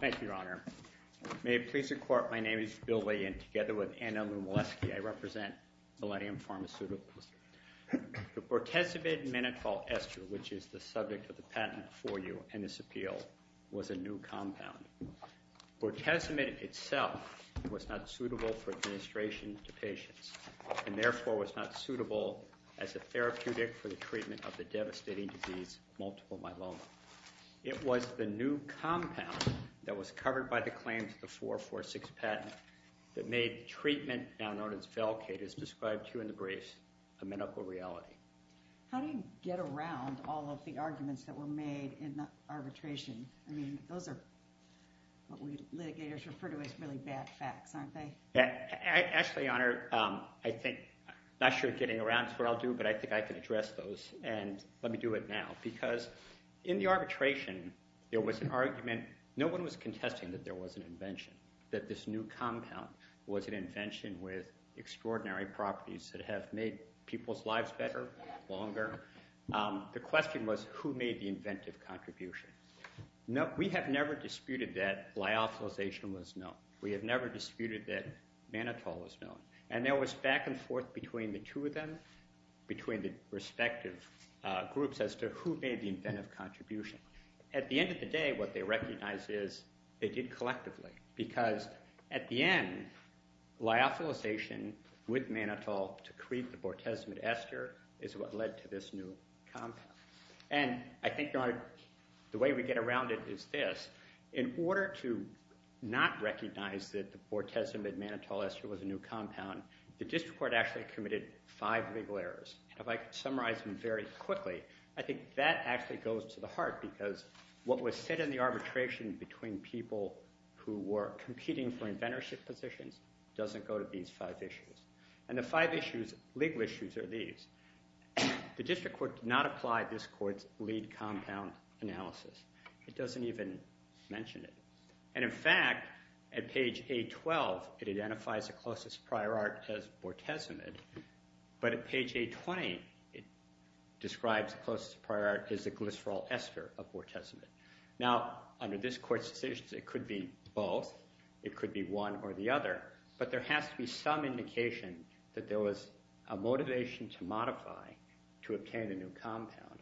Thank you, Your Honor. May it please the Court, my name is Bill Weyand. Together with Anna Lumlesky, I represent Millennium Pharmaceuticals. The bortezomib-menitol ester, which is the subject of the patent for you in this appeal, was a new compound. Bortezomib itself was not suitable for administration to patients and therefore was not suitable as a therapeutic for the treatment of the devastating disease, multiple myeloma. It was the new compound that was covered by the claims of the 446 patent that made treatment, now known as Velcade, as described to you in the briefs, a medical reality. How do you get around all of the arguments that were made in the arbitration? I mean, those are what we litigators refer to as really bad facts, aren't they? Actually, Your Honor, I think, I'm not sure getting around is what I'll do, but I think I can address those. And let me do it now, because in the arbitration, there was an argument. No one was contesting that there was an invention, that this new compound was an invention with extraordinary properties that have made people's lives better, longer. The question was, who made the inventive contribution? We have never disputed that lyophilization was known. We have never disputed that Manitoulin was known. And there was back and forth between the two of them, between the respective groups, as to who made the inventive contribution. At the end of the day, what they recognized is they did collectively, because at the end, lyophilization with Manitoulin to create the Bortezomib Ester is what led to this new compound. And I think, Your Honor, the way we get around it is this. In order to not recognize that the Bortezomib Manitoulin Ester was a new compound, the district court actually committed five legal errors. If I summarize them very quickly, I think that actually goes to the heart, because what was said in the arbitration between people who were competing for inventorship positions doesn't go to these five issues. And the five issues, legal issues, are these. The district court did not apply this court's lead compound analysis. It doesn't even mention it. And, in fact, at page 812, it identifies the closest prior art as Bortezomib. But at page 820, it describes the closest prior art as the glycerol ester of Bortezomib. Now, under this court's decisions, it could be both. It could be one or the other. But there has to be some indication that there was a motivation to multiply to obtain a new compound.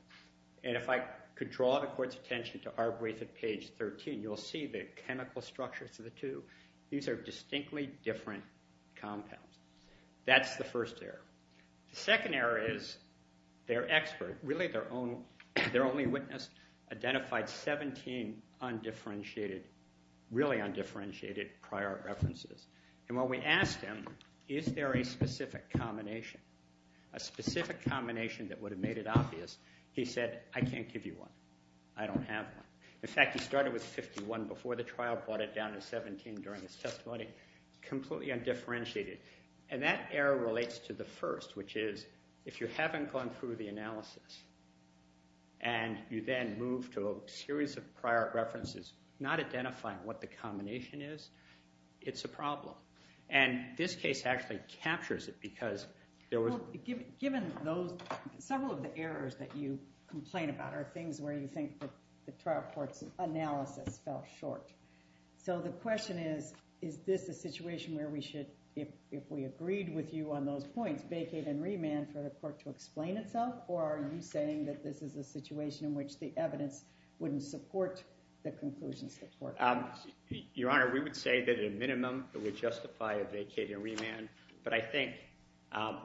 And if I could draw the court's attention to our brief at page 13, you'll see the chemical structures of the two. These are distinctly different compounds. That's the first error. The second error is their expert, really their only witness, identified 17 really undifferentiated prior art references. And when we asked him, is there a specific combination, a specific combination that would have made it obvious, he said, I can't give you one. I don't have one. In fact, he started with 51 before the trial, brought it down to 17 during his testimony. Completely undifferentiated. And that error relates to the first, which is, if you haven't gone through the analysis and you then move to a series of prior art references, not identifying what the combination is, it's a problem. And this case actually captures it because there was— Well, given those—several of the errors that you complain about are things where you think that the trial court's analysis fell short. So the question is, is this a situation where we should, if we agreed with you on those points, vacate and remand for the court to explain itself? Or are you saying that this is a situation in which the evidence wouldn't support the conclusions of the court? Your Honor, we would say that at a minimum it would justify a vacate and remand. But I think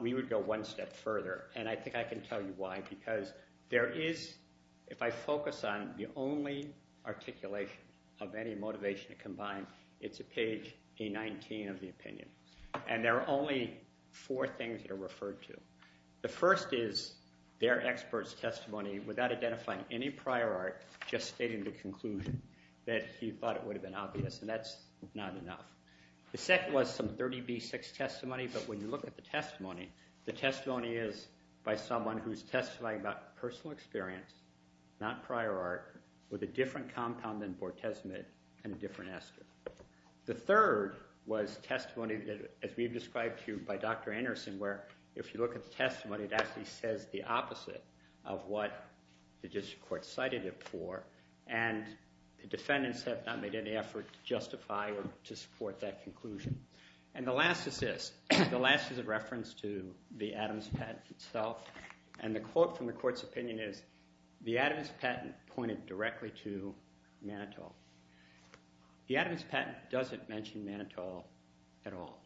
we would go one step further, and I think I can tell you why. Because there is—if I focus on the only articulation of any motivation combined, it's at page A-19 of the opinion. And there are only four things that are referred to. The first is their expert's testimony without identifying any prior art, just stating the conclusion that he thought it would have been obvious, and that's not enough. The second was some 30B-6 testimony, but when you look at the testimony, the testimony is by someone who's testifying about personal experience, not prior art, with a different compound than bortezomib and a different ester. The third was testimony, as we've described to you, by Dr. Anderson, where if you look at the testimony, it actually says the opposite of what the district court cited it for, and the defendants have not made any effort to justify or to support that conclusion. And the last is this. The last is a reference to the Adams patent itself, and the quote from the court's opinion is, the Adams patent pointed directly to Manitou. The Adams patent doesn't mention Manitou at all.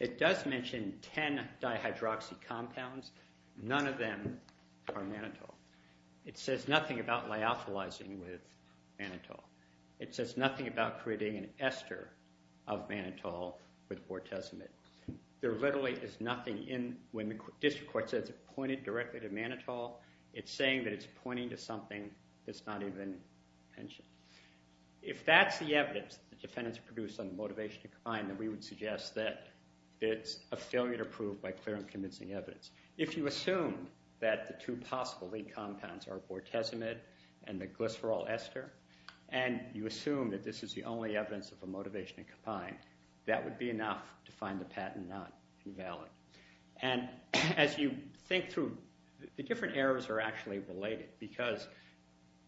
It does mention 10 dihydroxy compounds. None of them are Manitou. It says nothing about lyophilizing with Manitou. It says nothing about creating an ester of Manitou with bortezomib. There literally is nothing in when the district court says it pointed directly to Manitou. It's saying that it's pointing to something that's not even mentioned. If that's the evidence the defendants produced on the motivation to combine, then we would suggest that it's a failure to prove by clear and convincing evidence. If you assume that the two possible lead compounds are bortezomib and the glycerol ester, and you assume that this is the only evidence of a motivation to combine, that would be enough to find the patent not valid. And as you think through, the different errors are actually related, because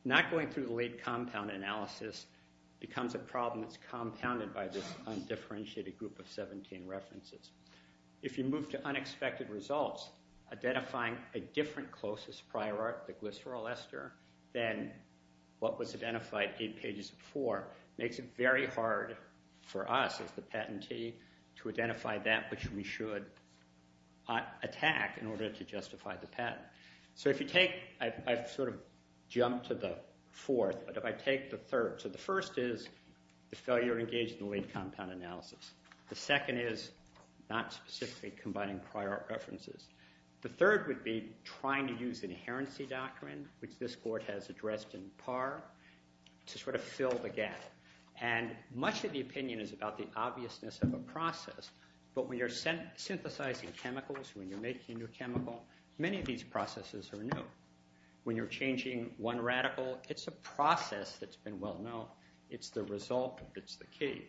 not going through the lead compound analysis becomes a problem that's compounded by this undifferentiated group of 17 references. If you move to unexpected results, identifying a different closest prior art, the glycerol ester, than what was identified eight pages before, makes it very hard for us as the patentee to identify that which we should attack in order to justify the patent. So I've sort of jumped to the fourth, but if I take the third. So the first is the failure to engage in the lead compound analysis. The second is not specifically combining prior art references. The third would be trying to use an inherency doctrine, which this court has addressed in par, to sort of fill the gap. And much of the opinion is about the obviousness of a process, but when you're synthesizing chemicals, when you're making a new chemical, many of these processes are new. When you're changing one radical, it's a process that's been well-known. It's the result that's the key.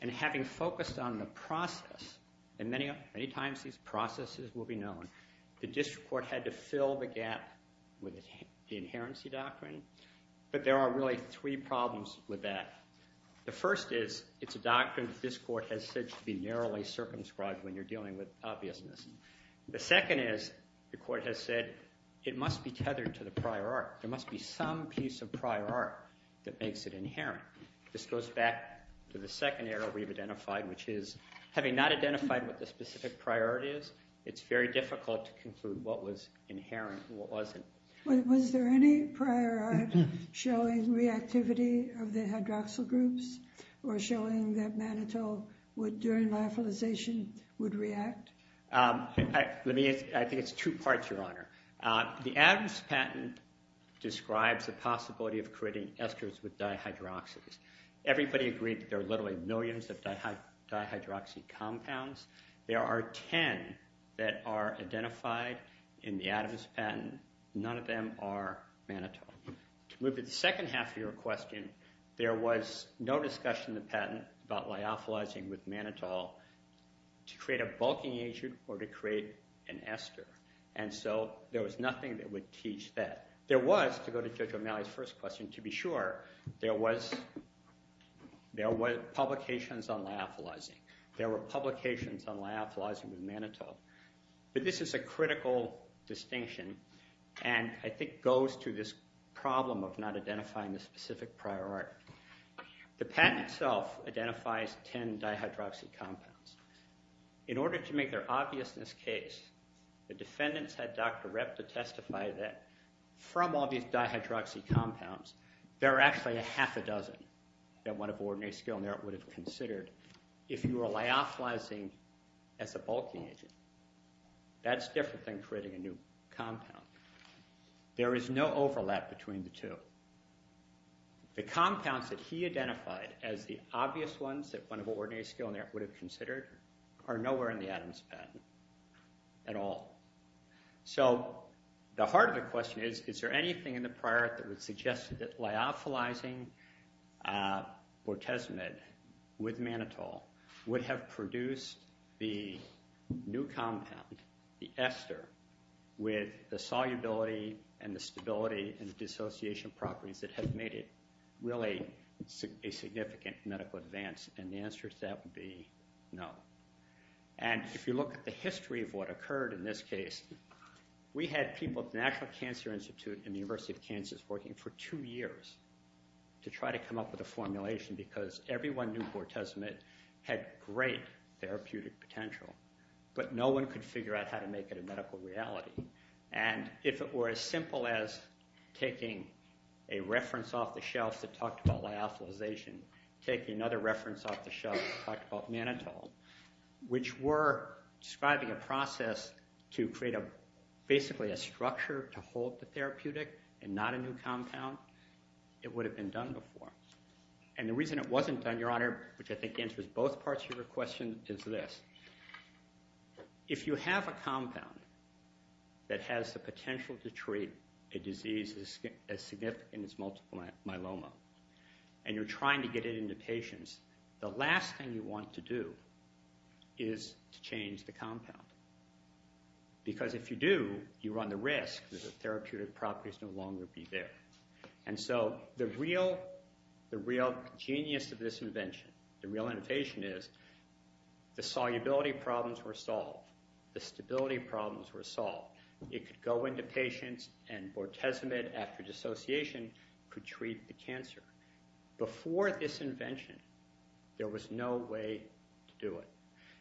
And having focused on the process, and many times these processes will be known, the district court had to fill the gap with the inherency doctrine, but there are really three problems with that. The first is it's a doctrine that this court has said to be narrowly circumscribed when you're dealing with obviousness. The second is the court has said it must be tethered to the prior art. There must be some piece of prior art that makes it inherent. This goes back to the second error we've identified, which is having not identified what the specific prior art is, it's very difficult to conclude what was inherent and what wasn't. Was there any prior art showing reactivity of the hydroxyl groups or showing that mannitol during lyophilization would react? I think it's two parts, Your Honor. The Adams patent describes the possibility of creating esters with dihydroxies. Everybody agreed that there are literally millions of dihydroxy compounds. There are ten that are identified in the Adams patent. None of them are mannitol. To move to the second half of your question, there was no discussion in the patent about lyophilizing with mannitol to create a bulking agent or to create an ester. And so there was nothing that would teach that. There was, to go to Judge O'Malley's first question, to be sure, there were publications on lyophilizing. There were publications on lyophilizing with mannitol. But this is a critical distinction and I think goes to this problem of not identifying the specific prior art. The patent itself identifies ten dihydroxy compounds. In order to make their obviousness case, the defendants had Dr. Repp to testify that from all these dihydroxy compounds, there are actually a half a dozen that one of ordinary skilled merit would have considered if you were lyophilizing as a bulking agent. That's different than creating a new compound. There is no overlap between the two. The compounds that he identified as the obvious ones that one of ordinary skilled merit would have considered are nowhere in the Adams patent at all. So the heart of the question is, is there anything in the prior art that would suggest that lyophilizing bortezomib with mannitol would have produced the new compound, the ester, with the solubility and the stability and dissociation properties that have made it really a significant medical advance? The answer to that would be no. If you look at the history of what occurred in this case, we had people at the National Cancer Institute and the University of Kansas working for two years to try to come up with a formulation because everyone knew bortezomib had great therapeutic potential, but no one could figure out how to make it a medical reality. And if it were as simple as taking a reference off the shelf that talked about lyophilization, taking another reference off the shelf that talked about mannitol, which were describing a process to create basically a structure to hold the therapeutic and not a new compound, it would have been done before. And the reason it wasn't done, Your Honor, which I think answers both parts of your question, is this. If you have a compound that has the potential to treat a disease as significant as multiple myeloma and you're trying to get it into patients, the last thing you want to do is to change the compound. Because if you do, you run the risk that the therapeutic properties no longer be there. And so the real genius of this invention, the real innovation, is the solubility problems were solved. The stability problems were solved. It could go into patients, and bortezomib after dissociation could treat the cancer. Before this invention, there was no way to do it.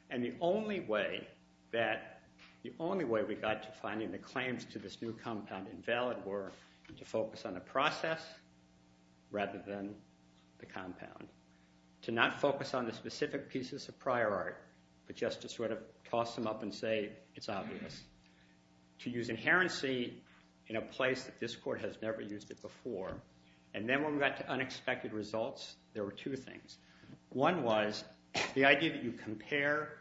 And the only way we got to finding the claims to this new compound invalid were to focus on the process rather than the compound. To not focus on the specific pieces of prior art, but just to sort of toss them up and say it's obvious. To use inherency in a place that this court has never used it before. And then when we got to unexpected results, there were two things. One was the idea that you compare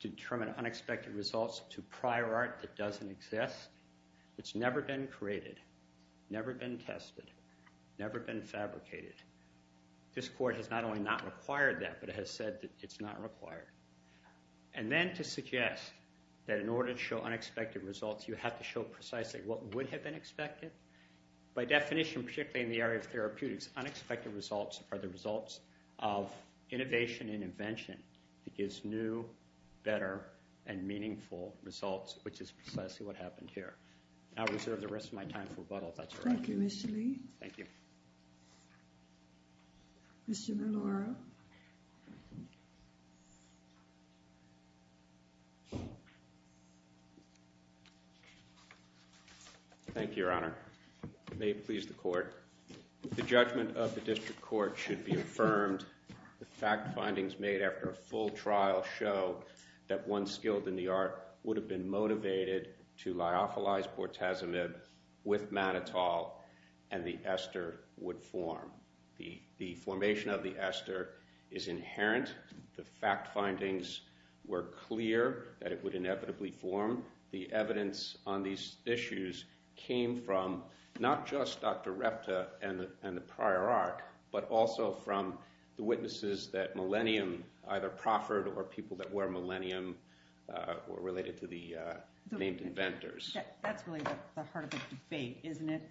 determined unexpected results to prior art that doesn't exist, that's never been created, never been tested, never been fabricated. This court has not only not required that, but it has said that it's not required. And then to suggest that in order to show unexpected results, you have to show precisely what would have been expected. By definition, particularly in the area of therapeutics, unexpected results are the results of innovation and invention that gives new, better, and meaningful results, which is precisely what happened here. I'll reserve the rest of my time for rebuttal if that's all right. Thank you, Mr. Lee. Thank you. Commissioner Lora. Thank you, Your Honor. May it please the court. The judgment of the district court should be affirmed. The fact findings made after a full trial show that one skilled in the art would have been motivated to lyophilize bortezomib with mannitol, and the ester would form. The formation of the ester is inherent. The fact findings were clear that it would inevitably form. The evidence on these issues came from not just Dr. Repta and the prior art, but also from the witnesses that Millennium, either Crawford or people that were Millennium, were related to the named inventors. That's really the heart of the debate, isn't it?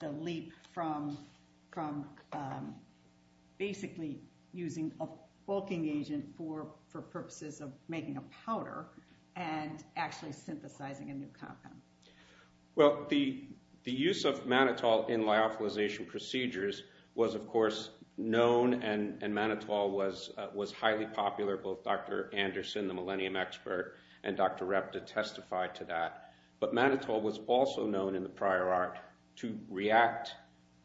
The leap from basically using a bulking agent for purposes of making a powder and actually synthesizing a new compound. Well, the use of mannitol in lyophilization procedures was, of course, known and mannitol was highly popular. Both Dr. Anderson, the Millennium expert, and Dr. Repta testified to that. But mannitol was also known in the prior art to react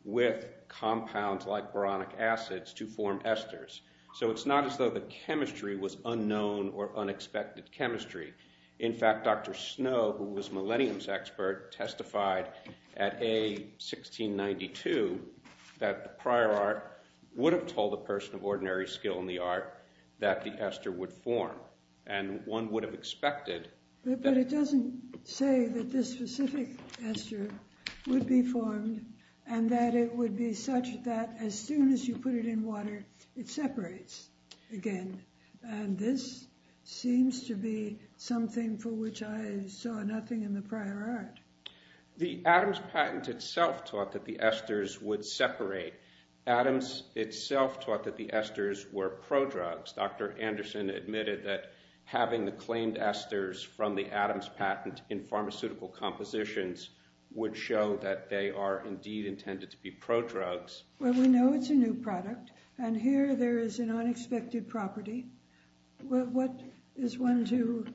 with compounds like boronic acids to form esters. So it's not as though the chemistry was unknown or unexpected chemistry. In fact, Dr. Snow, who was Millennium's expert, testified at A1692 that the prior art would have told a person of ordinary skill in the art that the ester would form, and one would have expected that. But it doesn't say that this specific ester would be formed and that it would be such that as soon as you put it in water, it separates again. And this seems to be something for which I saw nothing in the prior art. The Adams patent itself taught that the esters would separate. Adams itself taught that the esters were prodrugs. Dr. Anderson admitted that having the claimed esters from the Adams patent in pharmaceutical compositions would show that they are indeed intended to be prodrugs. Well, we know it's a new product, and here there is an unexpected property. What is one to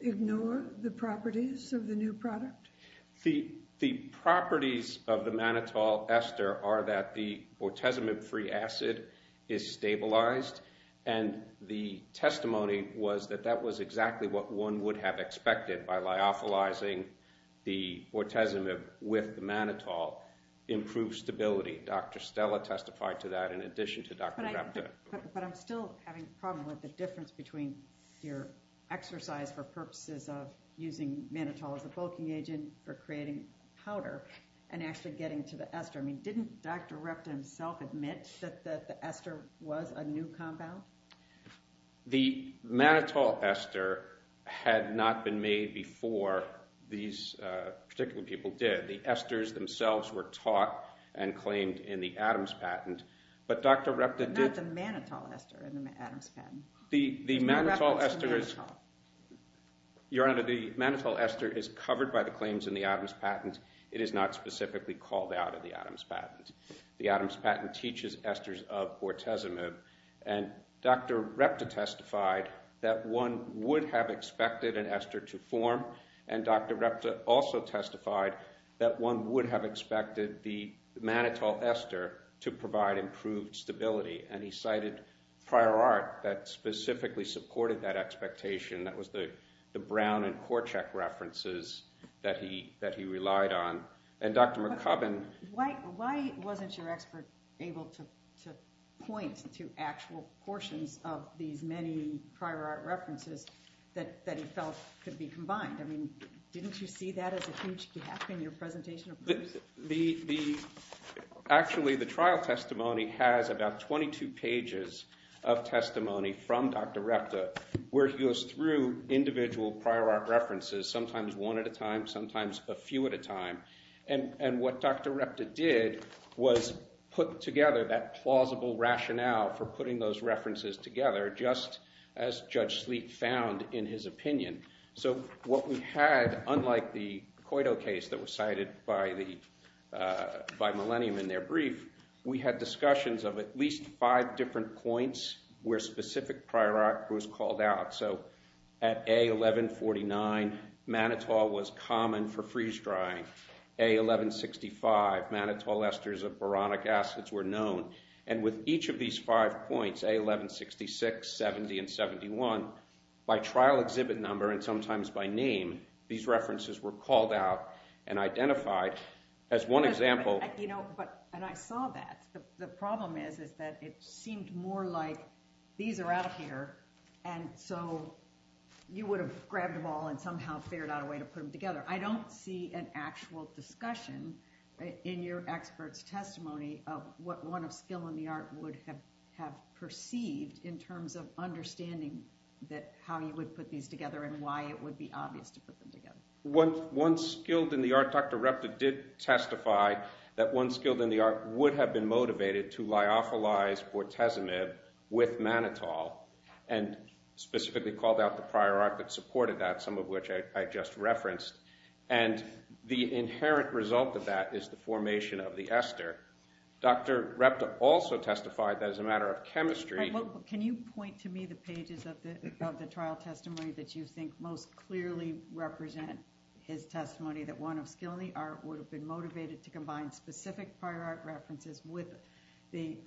ignore the properties of the new product? The properties of the mannitol ester are that the bortezomib-free acid is stabilized, and the testimony was that that was exactly what one would have expected by lyophilizing the bortezomib with the mannitol improves stability. Dr. Stella testified to that in addition to Dr. Repta. But I'm still having a problem with the difference between your exercise for purposes of using mannitol as a bulking agent for creating powder and actually getting to the ester. I mean, didn't Dr. Repta himself admit that the ester was a new compound? The mannitol ester had not been made before these particular people did. The esters themselves were taught and claimed in the Adams patent, but Dr. Repta did... Not the mannitol ester in the Adams patent. The mannitol ester is... Your Honor, the mannitol ester is covered by the claims in the Adams patent. It is not specifically called out in the Adams patent. The Adams patent teaches esters of bortezomib, and Dr. Repta testified that one would have expected an ester to form, and Dr. Repta also testified that one would have expected the mannitol ester to provide improved stability, and he cited prior art that specifically supported that expectation. That was the Brown and Korczak references that he relied on. And Dr. McCubbin... Why wasn't your expert able to point to actual portions of these many prior art references that he felt could be combined? I mean, didn't you see that as a huge gap in your presentation? Actually, the trial testimony has about 22 pages of testimony from Dr. Repta where he goes through individual prior art references, sometimes one at a time, sometimes a few at a time, and what Dr. Repta did was put together that plausible rationale for putting those references together just as Judge Sleet found in his opinion. So what we had, unlike the Coito case that was cited by Millennium in their brief, we had discussions of at least five different points where specific prior art was called out. So at A1149, mannitol was common for freeze-drying. A1165, mannitol esters of boronic acids were known. And with each of these five points, A1166, 70, and 71, by trial exhibit number and sometimes by name, these references were called out and identified as one example. And I saw that. The problem is that it seemed more like these are out here, and so you would have grabbed them all and somehow figured out a way to put them together. I don't see an actual discussion in your expert's testimony of what one of skill in the art would have perceived in terms of understanding how you would put these together and why it would be obvious to put them together. One skilled in the art, Dr. Repta did testify that one skilled in the art would have been motivated to lyophilize bortezomib with mannitol and specifically called out the prior art that supported that, some of which I just referenced. And the inherent result of that is the formation of the ester. Dr. Repta also testified that as a matter of chemistry... Can you point to me the pages of the trial testimony that you think most clearly represent his testimony, that one of skill in the art would have been motivated to combine specific prior art references with an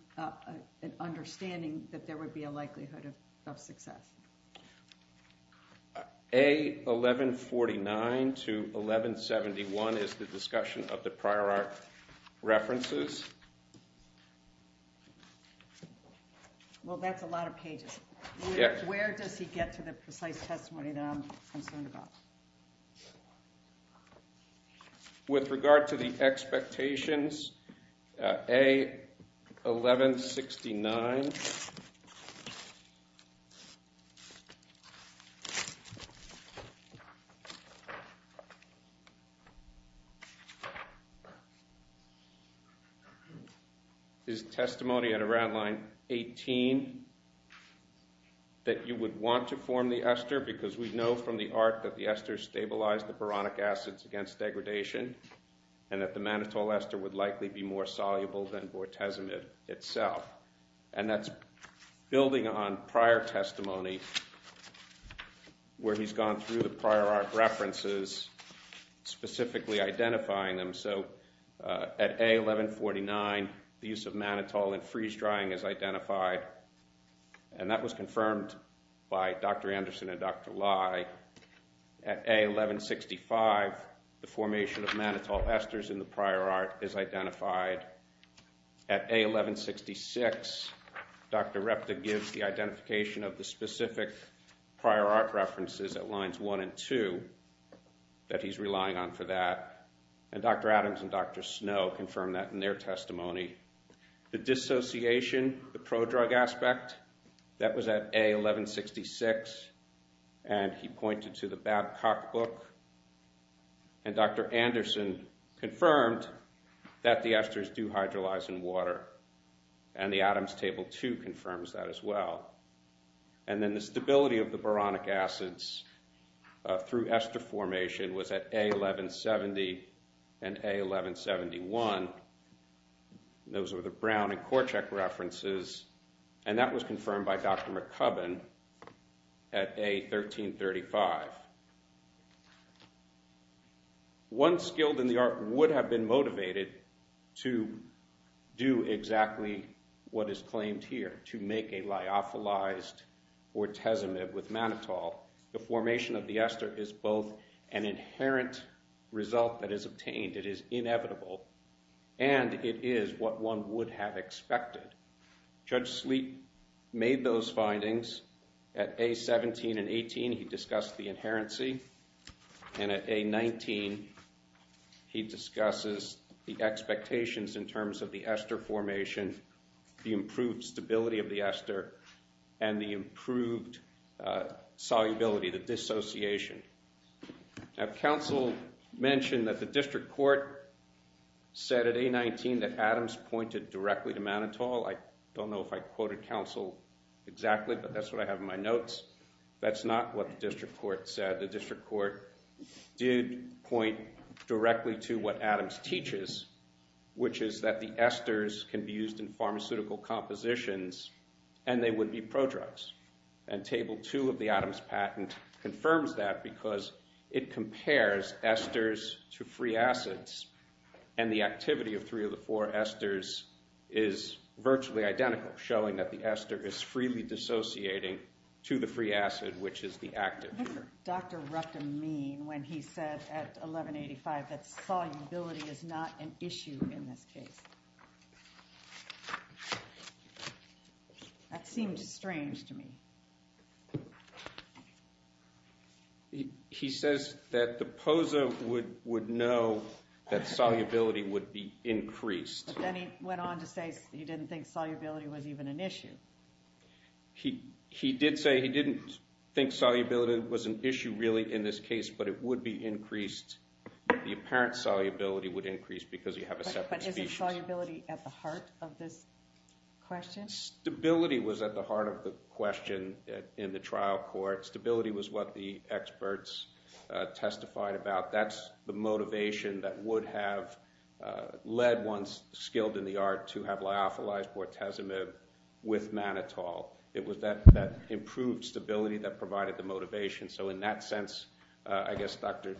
understanding that there would be a likelihood of success? A1149 to 1171 is the discussion of the prior art references. Well, that's a lot of pages. Where does he get to the precise testimony that I'm concerned about? With regard to the expectations, A1169... ...is testimony at around line 18 that you would want to form the ester because we know from the art that the esters stabilize the boronic acids against degradation and that the mannitol ester would likely be more soluble than bortezomib itself. And that's building on prior testimony where he's gone through the prior art references, specifically identifying them. So at A1149, the use of mannitol in freeze-drying is identified, and that was confirmed by Dr. Anderson and Dr. Lye. At A1165, the formation of mannitol esters in the prior art is identified. At A1166, Dr. Repta gives the identification of the specific prior art references at lines 1 and 2 that he's relying on for that, and Dr. Adams and Dr. Snow confirmed that in their testimony. The dissociation, the prodrug aspect, that was at A1166, and he pointed to the Babcock book, and Dr. Anderson confirmed that the esters do hydrolyze in water, and the Adams Table 2 confirms that as well. And then the stability of the boronic acids through ester formation was at A1170 and A1171. Those were the Brown and Korczak references, and that was confirmed by Dr. McCubbin. At A1335, one skilled in the art would have been motivated to do exactly what is claimed here, to make a lyophilized ortezomib with mannitol. The formation of the ester is both an inherent result that is obtained, it is inevitable, and it is what one would have expected. Judge Sleet made those findings. At A17 and A18, he discussed the inherency, and at A19, he discusses the expectations in terms of the ester formation, the improved stability of the ester, and the improved solubility, the dissociation. Now, counsel mentioned that the district court said at A19 that Adams pointed directly to mannitol. I don't know if I quoted counsel exactly, but that's what I have in my notes. That's not what the district court said. The district court did point directly to what Adams teaches, which is that the esters can be used in pharmaceutical compositions and they would be prodrugs. And Table 2 of the Adams patent confirms that because it compares esters to free acids, and the activity of three of the four esters is virtually identical, showing that the ester is freely dissociating to the free acid, which is the active. What did Dr. Ruptin mean when he said at 1185 that solubility is not an issue in this case? That seemed strange to me. He says that the POSA would know that solubility would be increased. Then he went on to say he didn't think solubility was even an issue. He did say he didn't think solubility was an issue really in this case, but it would be increased. The apparent solubility would increase because you have a separate species. But isn't solubility at the heart of this question? Stability was at the heart of the question in the trial court. Stability was what the experts testified about. That's the motivation that would have led ones skilled in the art to have lyophilized bortezomib with mannitol. It was that improved stability that provided the motivation. So in that sense, I guess Dr.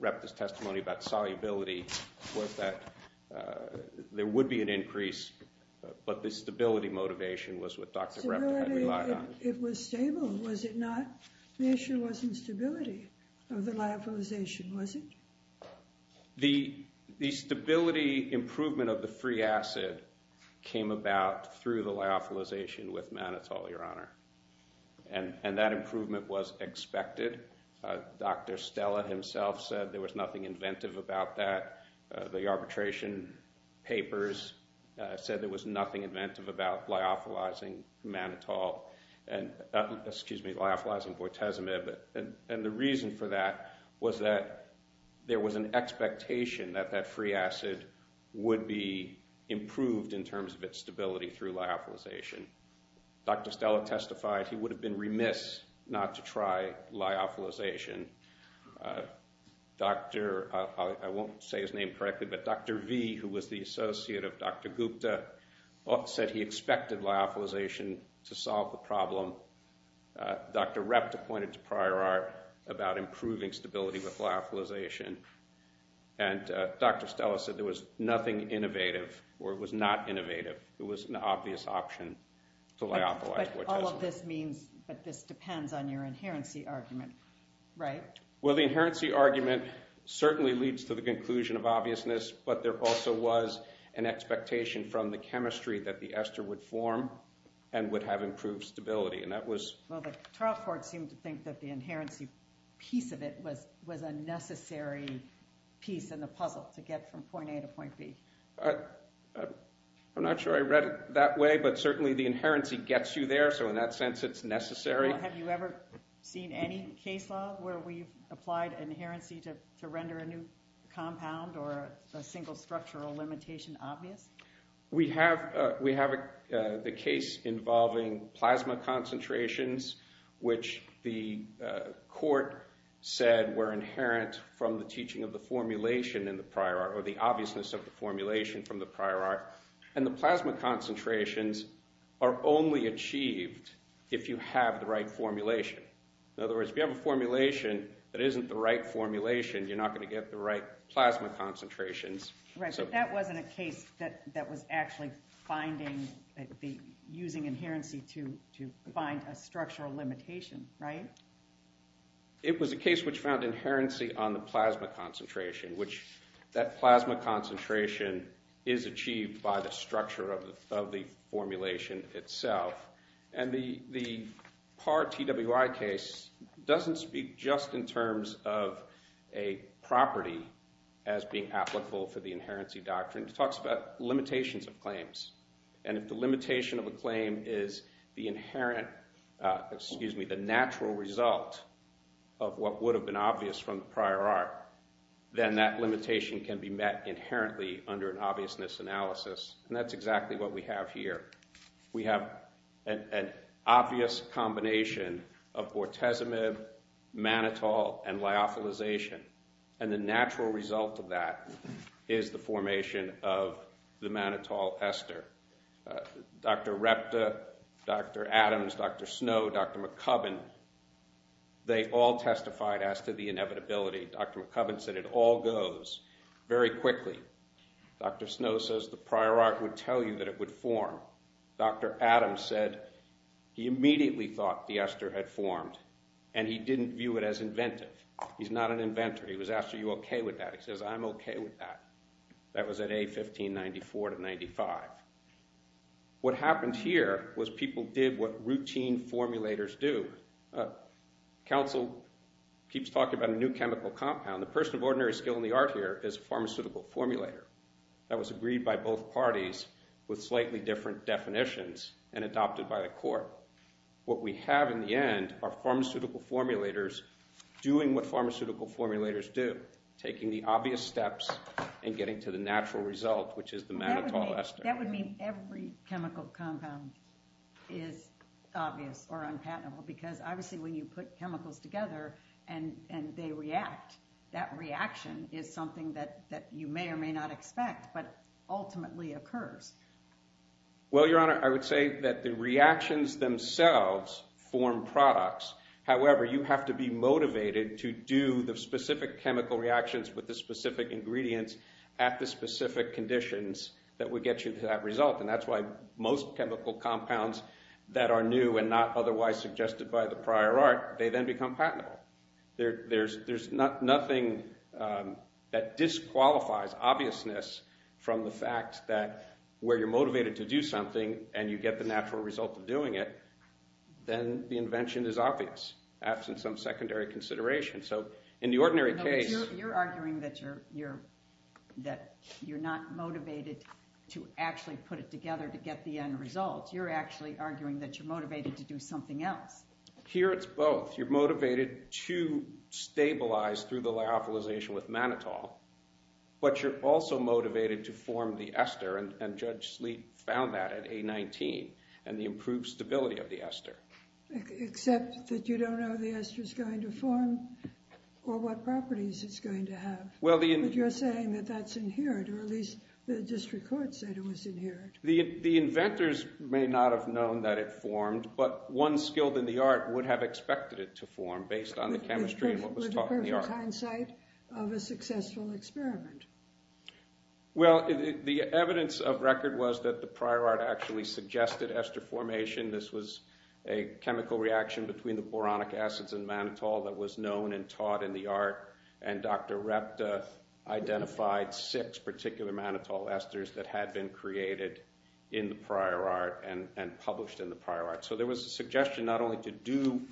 Ruptin's testimony about solubility was that there would be an increase, but the stability motivation was what Dr. Ruptin relied on. Stability, it was stable, was it not? The issue wasn't stability of the lyophilization, was it? The stability improvement of the free acid came about through the lyophilization with mannitol, Your Honor. And that improvement was expected. Dr. Stella himself said there was nothing inventive about that. The arbitration papers said there was nothing inventive about lyophilizing mannitol. Excuse me, lyophilizing bortezomib. And the reason for that was that there was an expectation that that free acid would be improved in terms of its stability through lyophilization. Dr. Stella testified he would have been remiss not to try lyophilization. I won't say his name correctly, but Dr. V, who was the associate of Dr. Gupta, said he expected lyophilization to solve the problem. Dr. Repta pointed to prior art about improving stability with lyophilization. And Dr. Stella said there was nothing innovative, or it was not innovative. But all of this means that this depends on your inherency argument, right? Well, the inherency argument certainly leads to the conclusion of obviousness, but there also was an expectation from the chemistry that the ester would form and would have improved stability, and that was... Well, but Tarleford seemed to think that the inherency piece of it was a necessary piece in the puzzle to get from point A to point B. I'm not sure I read it that way, but certainly the inherency gets you there, so in that sense it's necessary. Well, have you ever seen any case law where we've applied inherency to render a new compound or a single structural limitation obvious? We have the case involving plasma concentrations, which the court said were inherent from the teaching of the formulation in the prior art, or the obviousness of the formulation from the prior art, and the plasma concentrations are only achieved if you have the right formulation. In other words, if you have a formulation that isn't the right formulation, you're not going to get the right plasma concentrations. Right, but that wasn't a case that was actually using inherency to find a structural limitation, right? It was a case which found inherency on the plasma concentration, which that plasma concentration is achieved by the structure of the formulation itself, and the par TWI case doesn't speak just in terms of a property as being applicable for the inherency doctrine. It talks about limitations of claims, and if the limitation of a claim is the natural result of what would have been obvious from the prior art, then that limitation can be met inherently under an obviousness analysis, and that's exactly what we have here. We have an obvious combination of bortezomib, mannitol, and lyophilization, and the natural result of that is the formation of the mannitol ester. Dr. Repta, Dr. Adams, Dr. Snow, Dr. McCubbin, they all testified as to the inevitability. Dr. McCubbin said it all goes very quickly. Dr. Snow says the prior art would tell you that it would form. Dr. Adams said he immediately thought the ester had formed, and he didn't view it as inventive. He's not an inventor. He was asked, are you okay with that? He says, I'm okay with that. That was at A1594-95. What happened here was people did what routine formulators do. Council keeps talking about a new chemical compound. The person of ordinary skill in the art here is a pharmaceutical formulator. That was agreed by both parties with slightly different definitions and adopted by the court. What we have in the end are pharmaceutical formulators doing what pharmaceutical formulators do, taking the obvious steps and getting to the natural result, which is the mannitol ester. That would mean every chemical compound is obvious or unpatentable because obviously when you put chemicals together and they react, that reaction is something that you may or may not expect, but ultimately occurs. Well, Your Honor, I would say that the reactions themselves form products. However, you have to be motivated to do the specific chemical reactions with the specific ingredients at the specific conditions that would get you to that result, and that's why most chemical compounds that are new and not otherwise suggested by the prior art, they then become patentable. There's nothing that disqualifies obviousness from the fact that where you're motivated to do something and you get the natural result of doing it, then the invention is obvious, absent some secondary consideration. So in the ordinary case— No, but you're arguing that you're not motivated to actually put it together to get the end result. You're actually arguing that you're motivated to do something else. Here it's both. You're motivated to stabilize through the lyophilization with mannitol, but you're also motivated to form the ester, and Judge Sleet found that at A19 and the improved stability of the ester. Except that you don't know the ester is going to form or what properties it's going to have. But you're saying that that's inherent, or at least the district court said it was inherent. The inventors may not have known that it formed, but one skilled in the art would have expected it to form based on the chemistry and what was taught in the art. With the perfect hindsight of a successful experiment. Well, the evidence of record was that the prior art actually suggested ester formation. This was a chemical reaction between the boronic acids and mannitol that was known and taught in the art, and Dr. Repta identified six particular mannitol esters that had been created in the prior art and published in the prior art. So there was a suggestion not only to do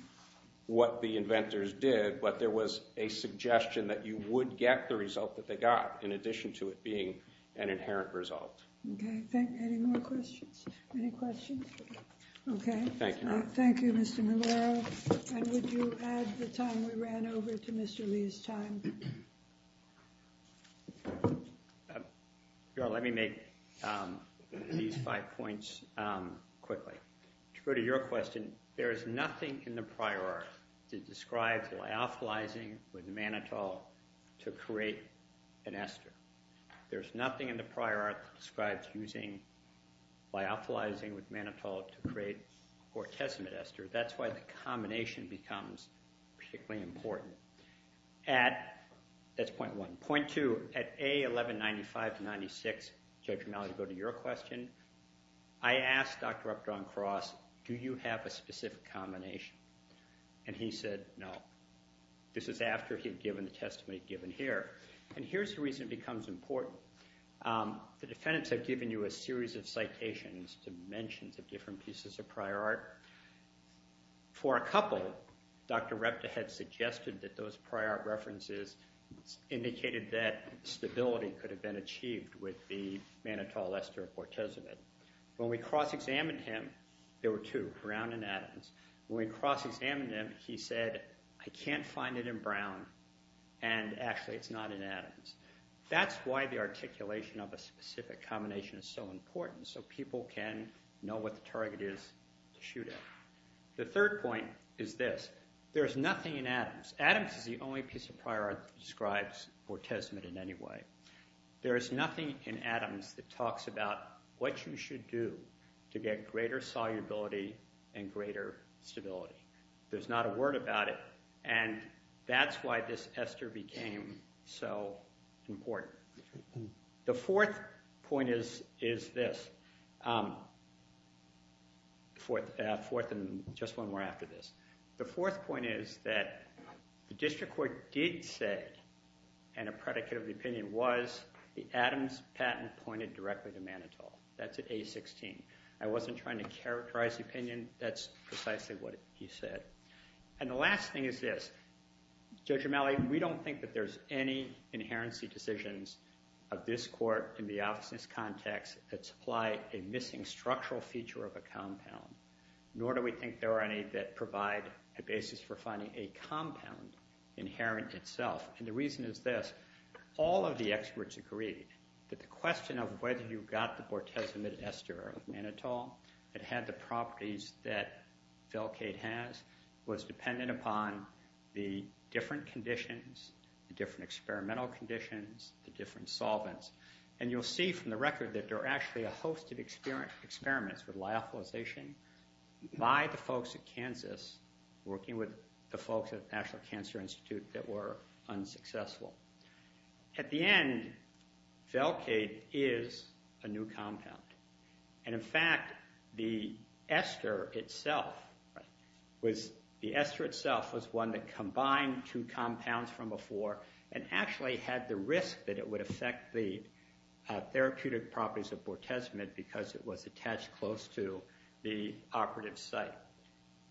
what the inventors did, but there was a suggestion that you would get the result that they got in addition to it being an inherent result. Okay. Any more questions? Any questions? Okay. Thank you, Mr. Maloro. And would you add the time we ran over to Mr. Lee's time? Let me make these five points quickly. To go to your question, there is nothing in the prior art that describes lyophilizing with mannitol to create an ester. There's nothing in the prior art that describes using lyophilizing with mannitol to create gortezimate ester. That's why the combination becomes particularly important. That's point one. Point two, at A, 1195 to 96, Judge Romali, to go to your question, I asked Dr. Repta on cross, do you have a specific combination? And he said, no. This is after he had given the testimony given here. And here's the reason it becomes important. The defendants have given you a series of citations to mention the different pieces of prior art. For a couple, Dr. Repta had suggested that those prior art references indicated that stability could have been achieved with the mannitol ester of gortezimate. When we cross-examined him, there were two, brown and atoms. When we cross-examined him, he said, I can't find it in brown, and actually it's not in atoms. That's why the articulation of a specific combination is so important, so people can know what the target is to shoot at. The third point is this. There is nothing in atoms. Atoms is the only piece of prior art that describes gortezimate in any way. There is nothing in atoms that talks about what you should do to get greater solubility and greater stability. There's not a word about it. That's why this ester became so important. The fourth point is this. Just one more after this. The fourth point is that the district court did say, and a predicate of the opinion was, the atoms patent pointed directly to mannitol. That's at A16. I wasn't trying to characterize the opinion. That's precisely what he said. The last thing is this. Judge O'Malley, we don't think that there's any inherency decisions of this court in the opposite context that supply a missing structural feature of a compound, nor do we think there are any that provide a basis for finding a compound inherent itself. The reason is this. All of the experts agree that the question of whether you got the gortezimate ester of mannitol, that had the properties that Velcade has, was dependent upon the different conditions, the different experimental conditions, the different solvents. And you'll see from the record that there are actually a host of experiments with lyophilization by the folks at Kansas, working with the folks at the National Cancer Institute that were unsuccessful. At the end, Velcade is a new compound. And in fact, the ester itself was one that combined two compounds from before and actually had the risk that it would affect the therapeutic properties of gortezimate because it was attached close to the operative site.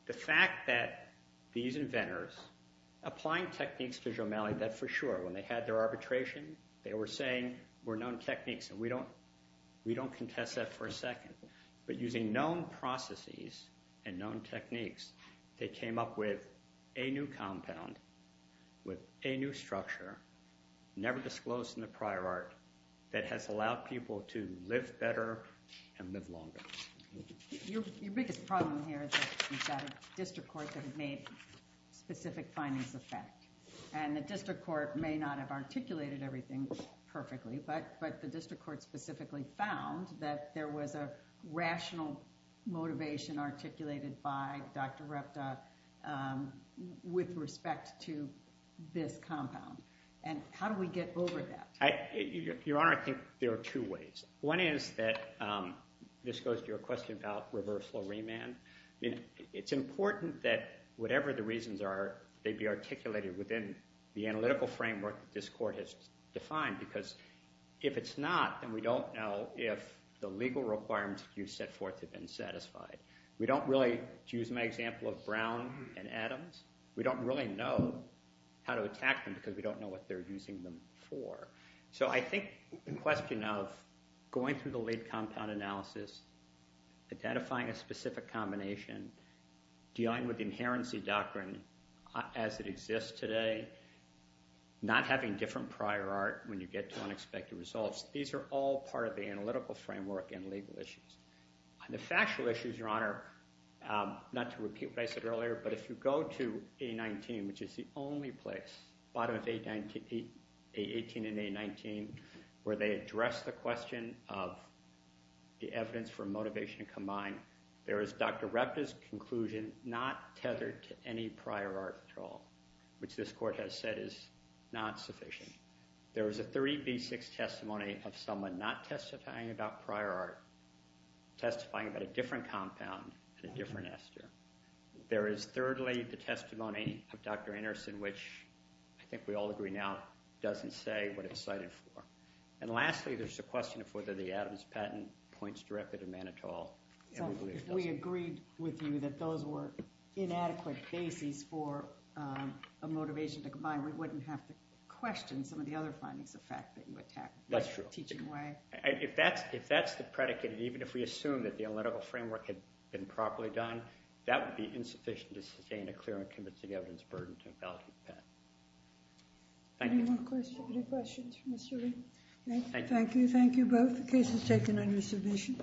The fact that these inventors, applying techniques to Judge O'Malley, that's for sure. When they had their arbitration, they were saying, were known techniques. And we don't contest that for a second. But using known processes and known techniques, they came up with a new compound with a new structure, never disclosed in the prior art, that has allowed people to live better and live longer. Your biggest problem here is that a district court could have made specific findings of fact. And the district court may not have articulated everything perfectly, but the district court specifically found that there was a rational motivation articulated by Dr. Repta with respect to this compound. And how do we get over that? Your Honor, I think there are two ways. One is that, this goes to your question about reversal remand. It's important that whatever the reasons are, they be articulated within the analytical framework that this court has defined. Because if it's not, then we don't know if the legal requirements you set forth have been satisfied. We don't really, to use my example of Brown and Adams, we don't really know how to attack them, because we don't know what they're using them for. So I think the question of going through the late compound analysis, identifying a specific combination, dealing with the inherency doctrine as it exists today, not having different prior art when you get to unexpected results. These are all part of the analytical framework and legal issues. The factual issues, Your Honor, not to repeat what I said earlier, but if you go to A19, which is the only place, bottom of A18 and A19, where they address the question of the evidence for motivation combined, there is Dr. Rector's conclusion not tethered to any prior art at all, which this court has said is not sufficient. There is a 30B6 testimony of someone not testifying about prior art, testifying about a different compound and a different ester. There is, thirdly, the testimony of Dr. Anderson, which I think we all agree now doesn't say what it's cited for. And lastly, there's the question of whether the Adams patent points directly to Manitou. So if we agreed with you that those were inadequate bases for a motivation to combine, we wouldn't have to question some of the other findings, the fact that you attacked the teaching way? That's true. If that's the predicate, and even if we assume that the analytical framework had been properly done, that would be insufficient to sustain a clear and convincing evidence burden to invalidate the patent. Thank you. Any more questions? Any questions for Mr. Reed? Thank you. Thank you. Thank you both. The case is taken under submission.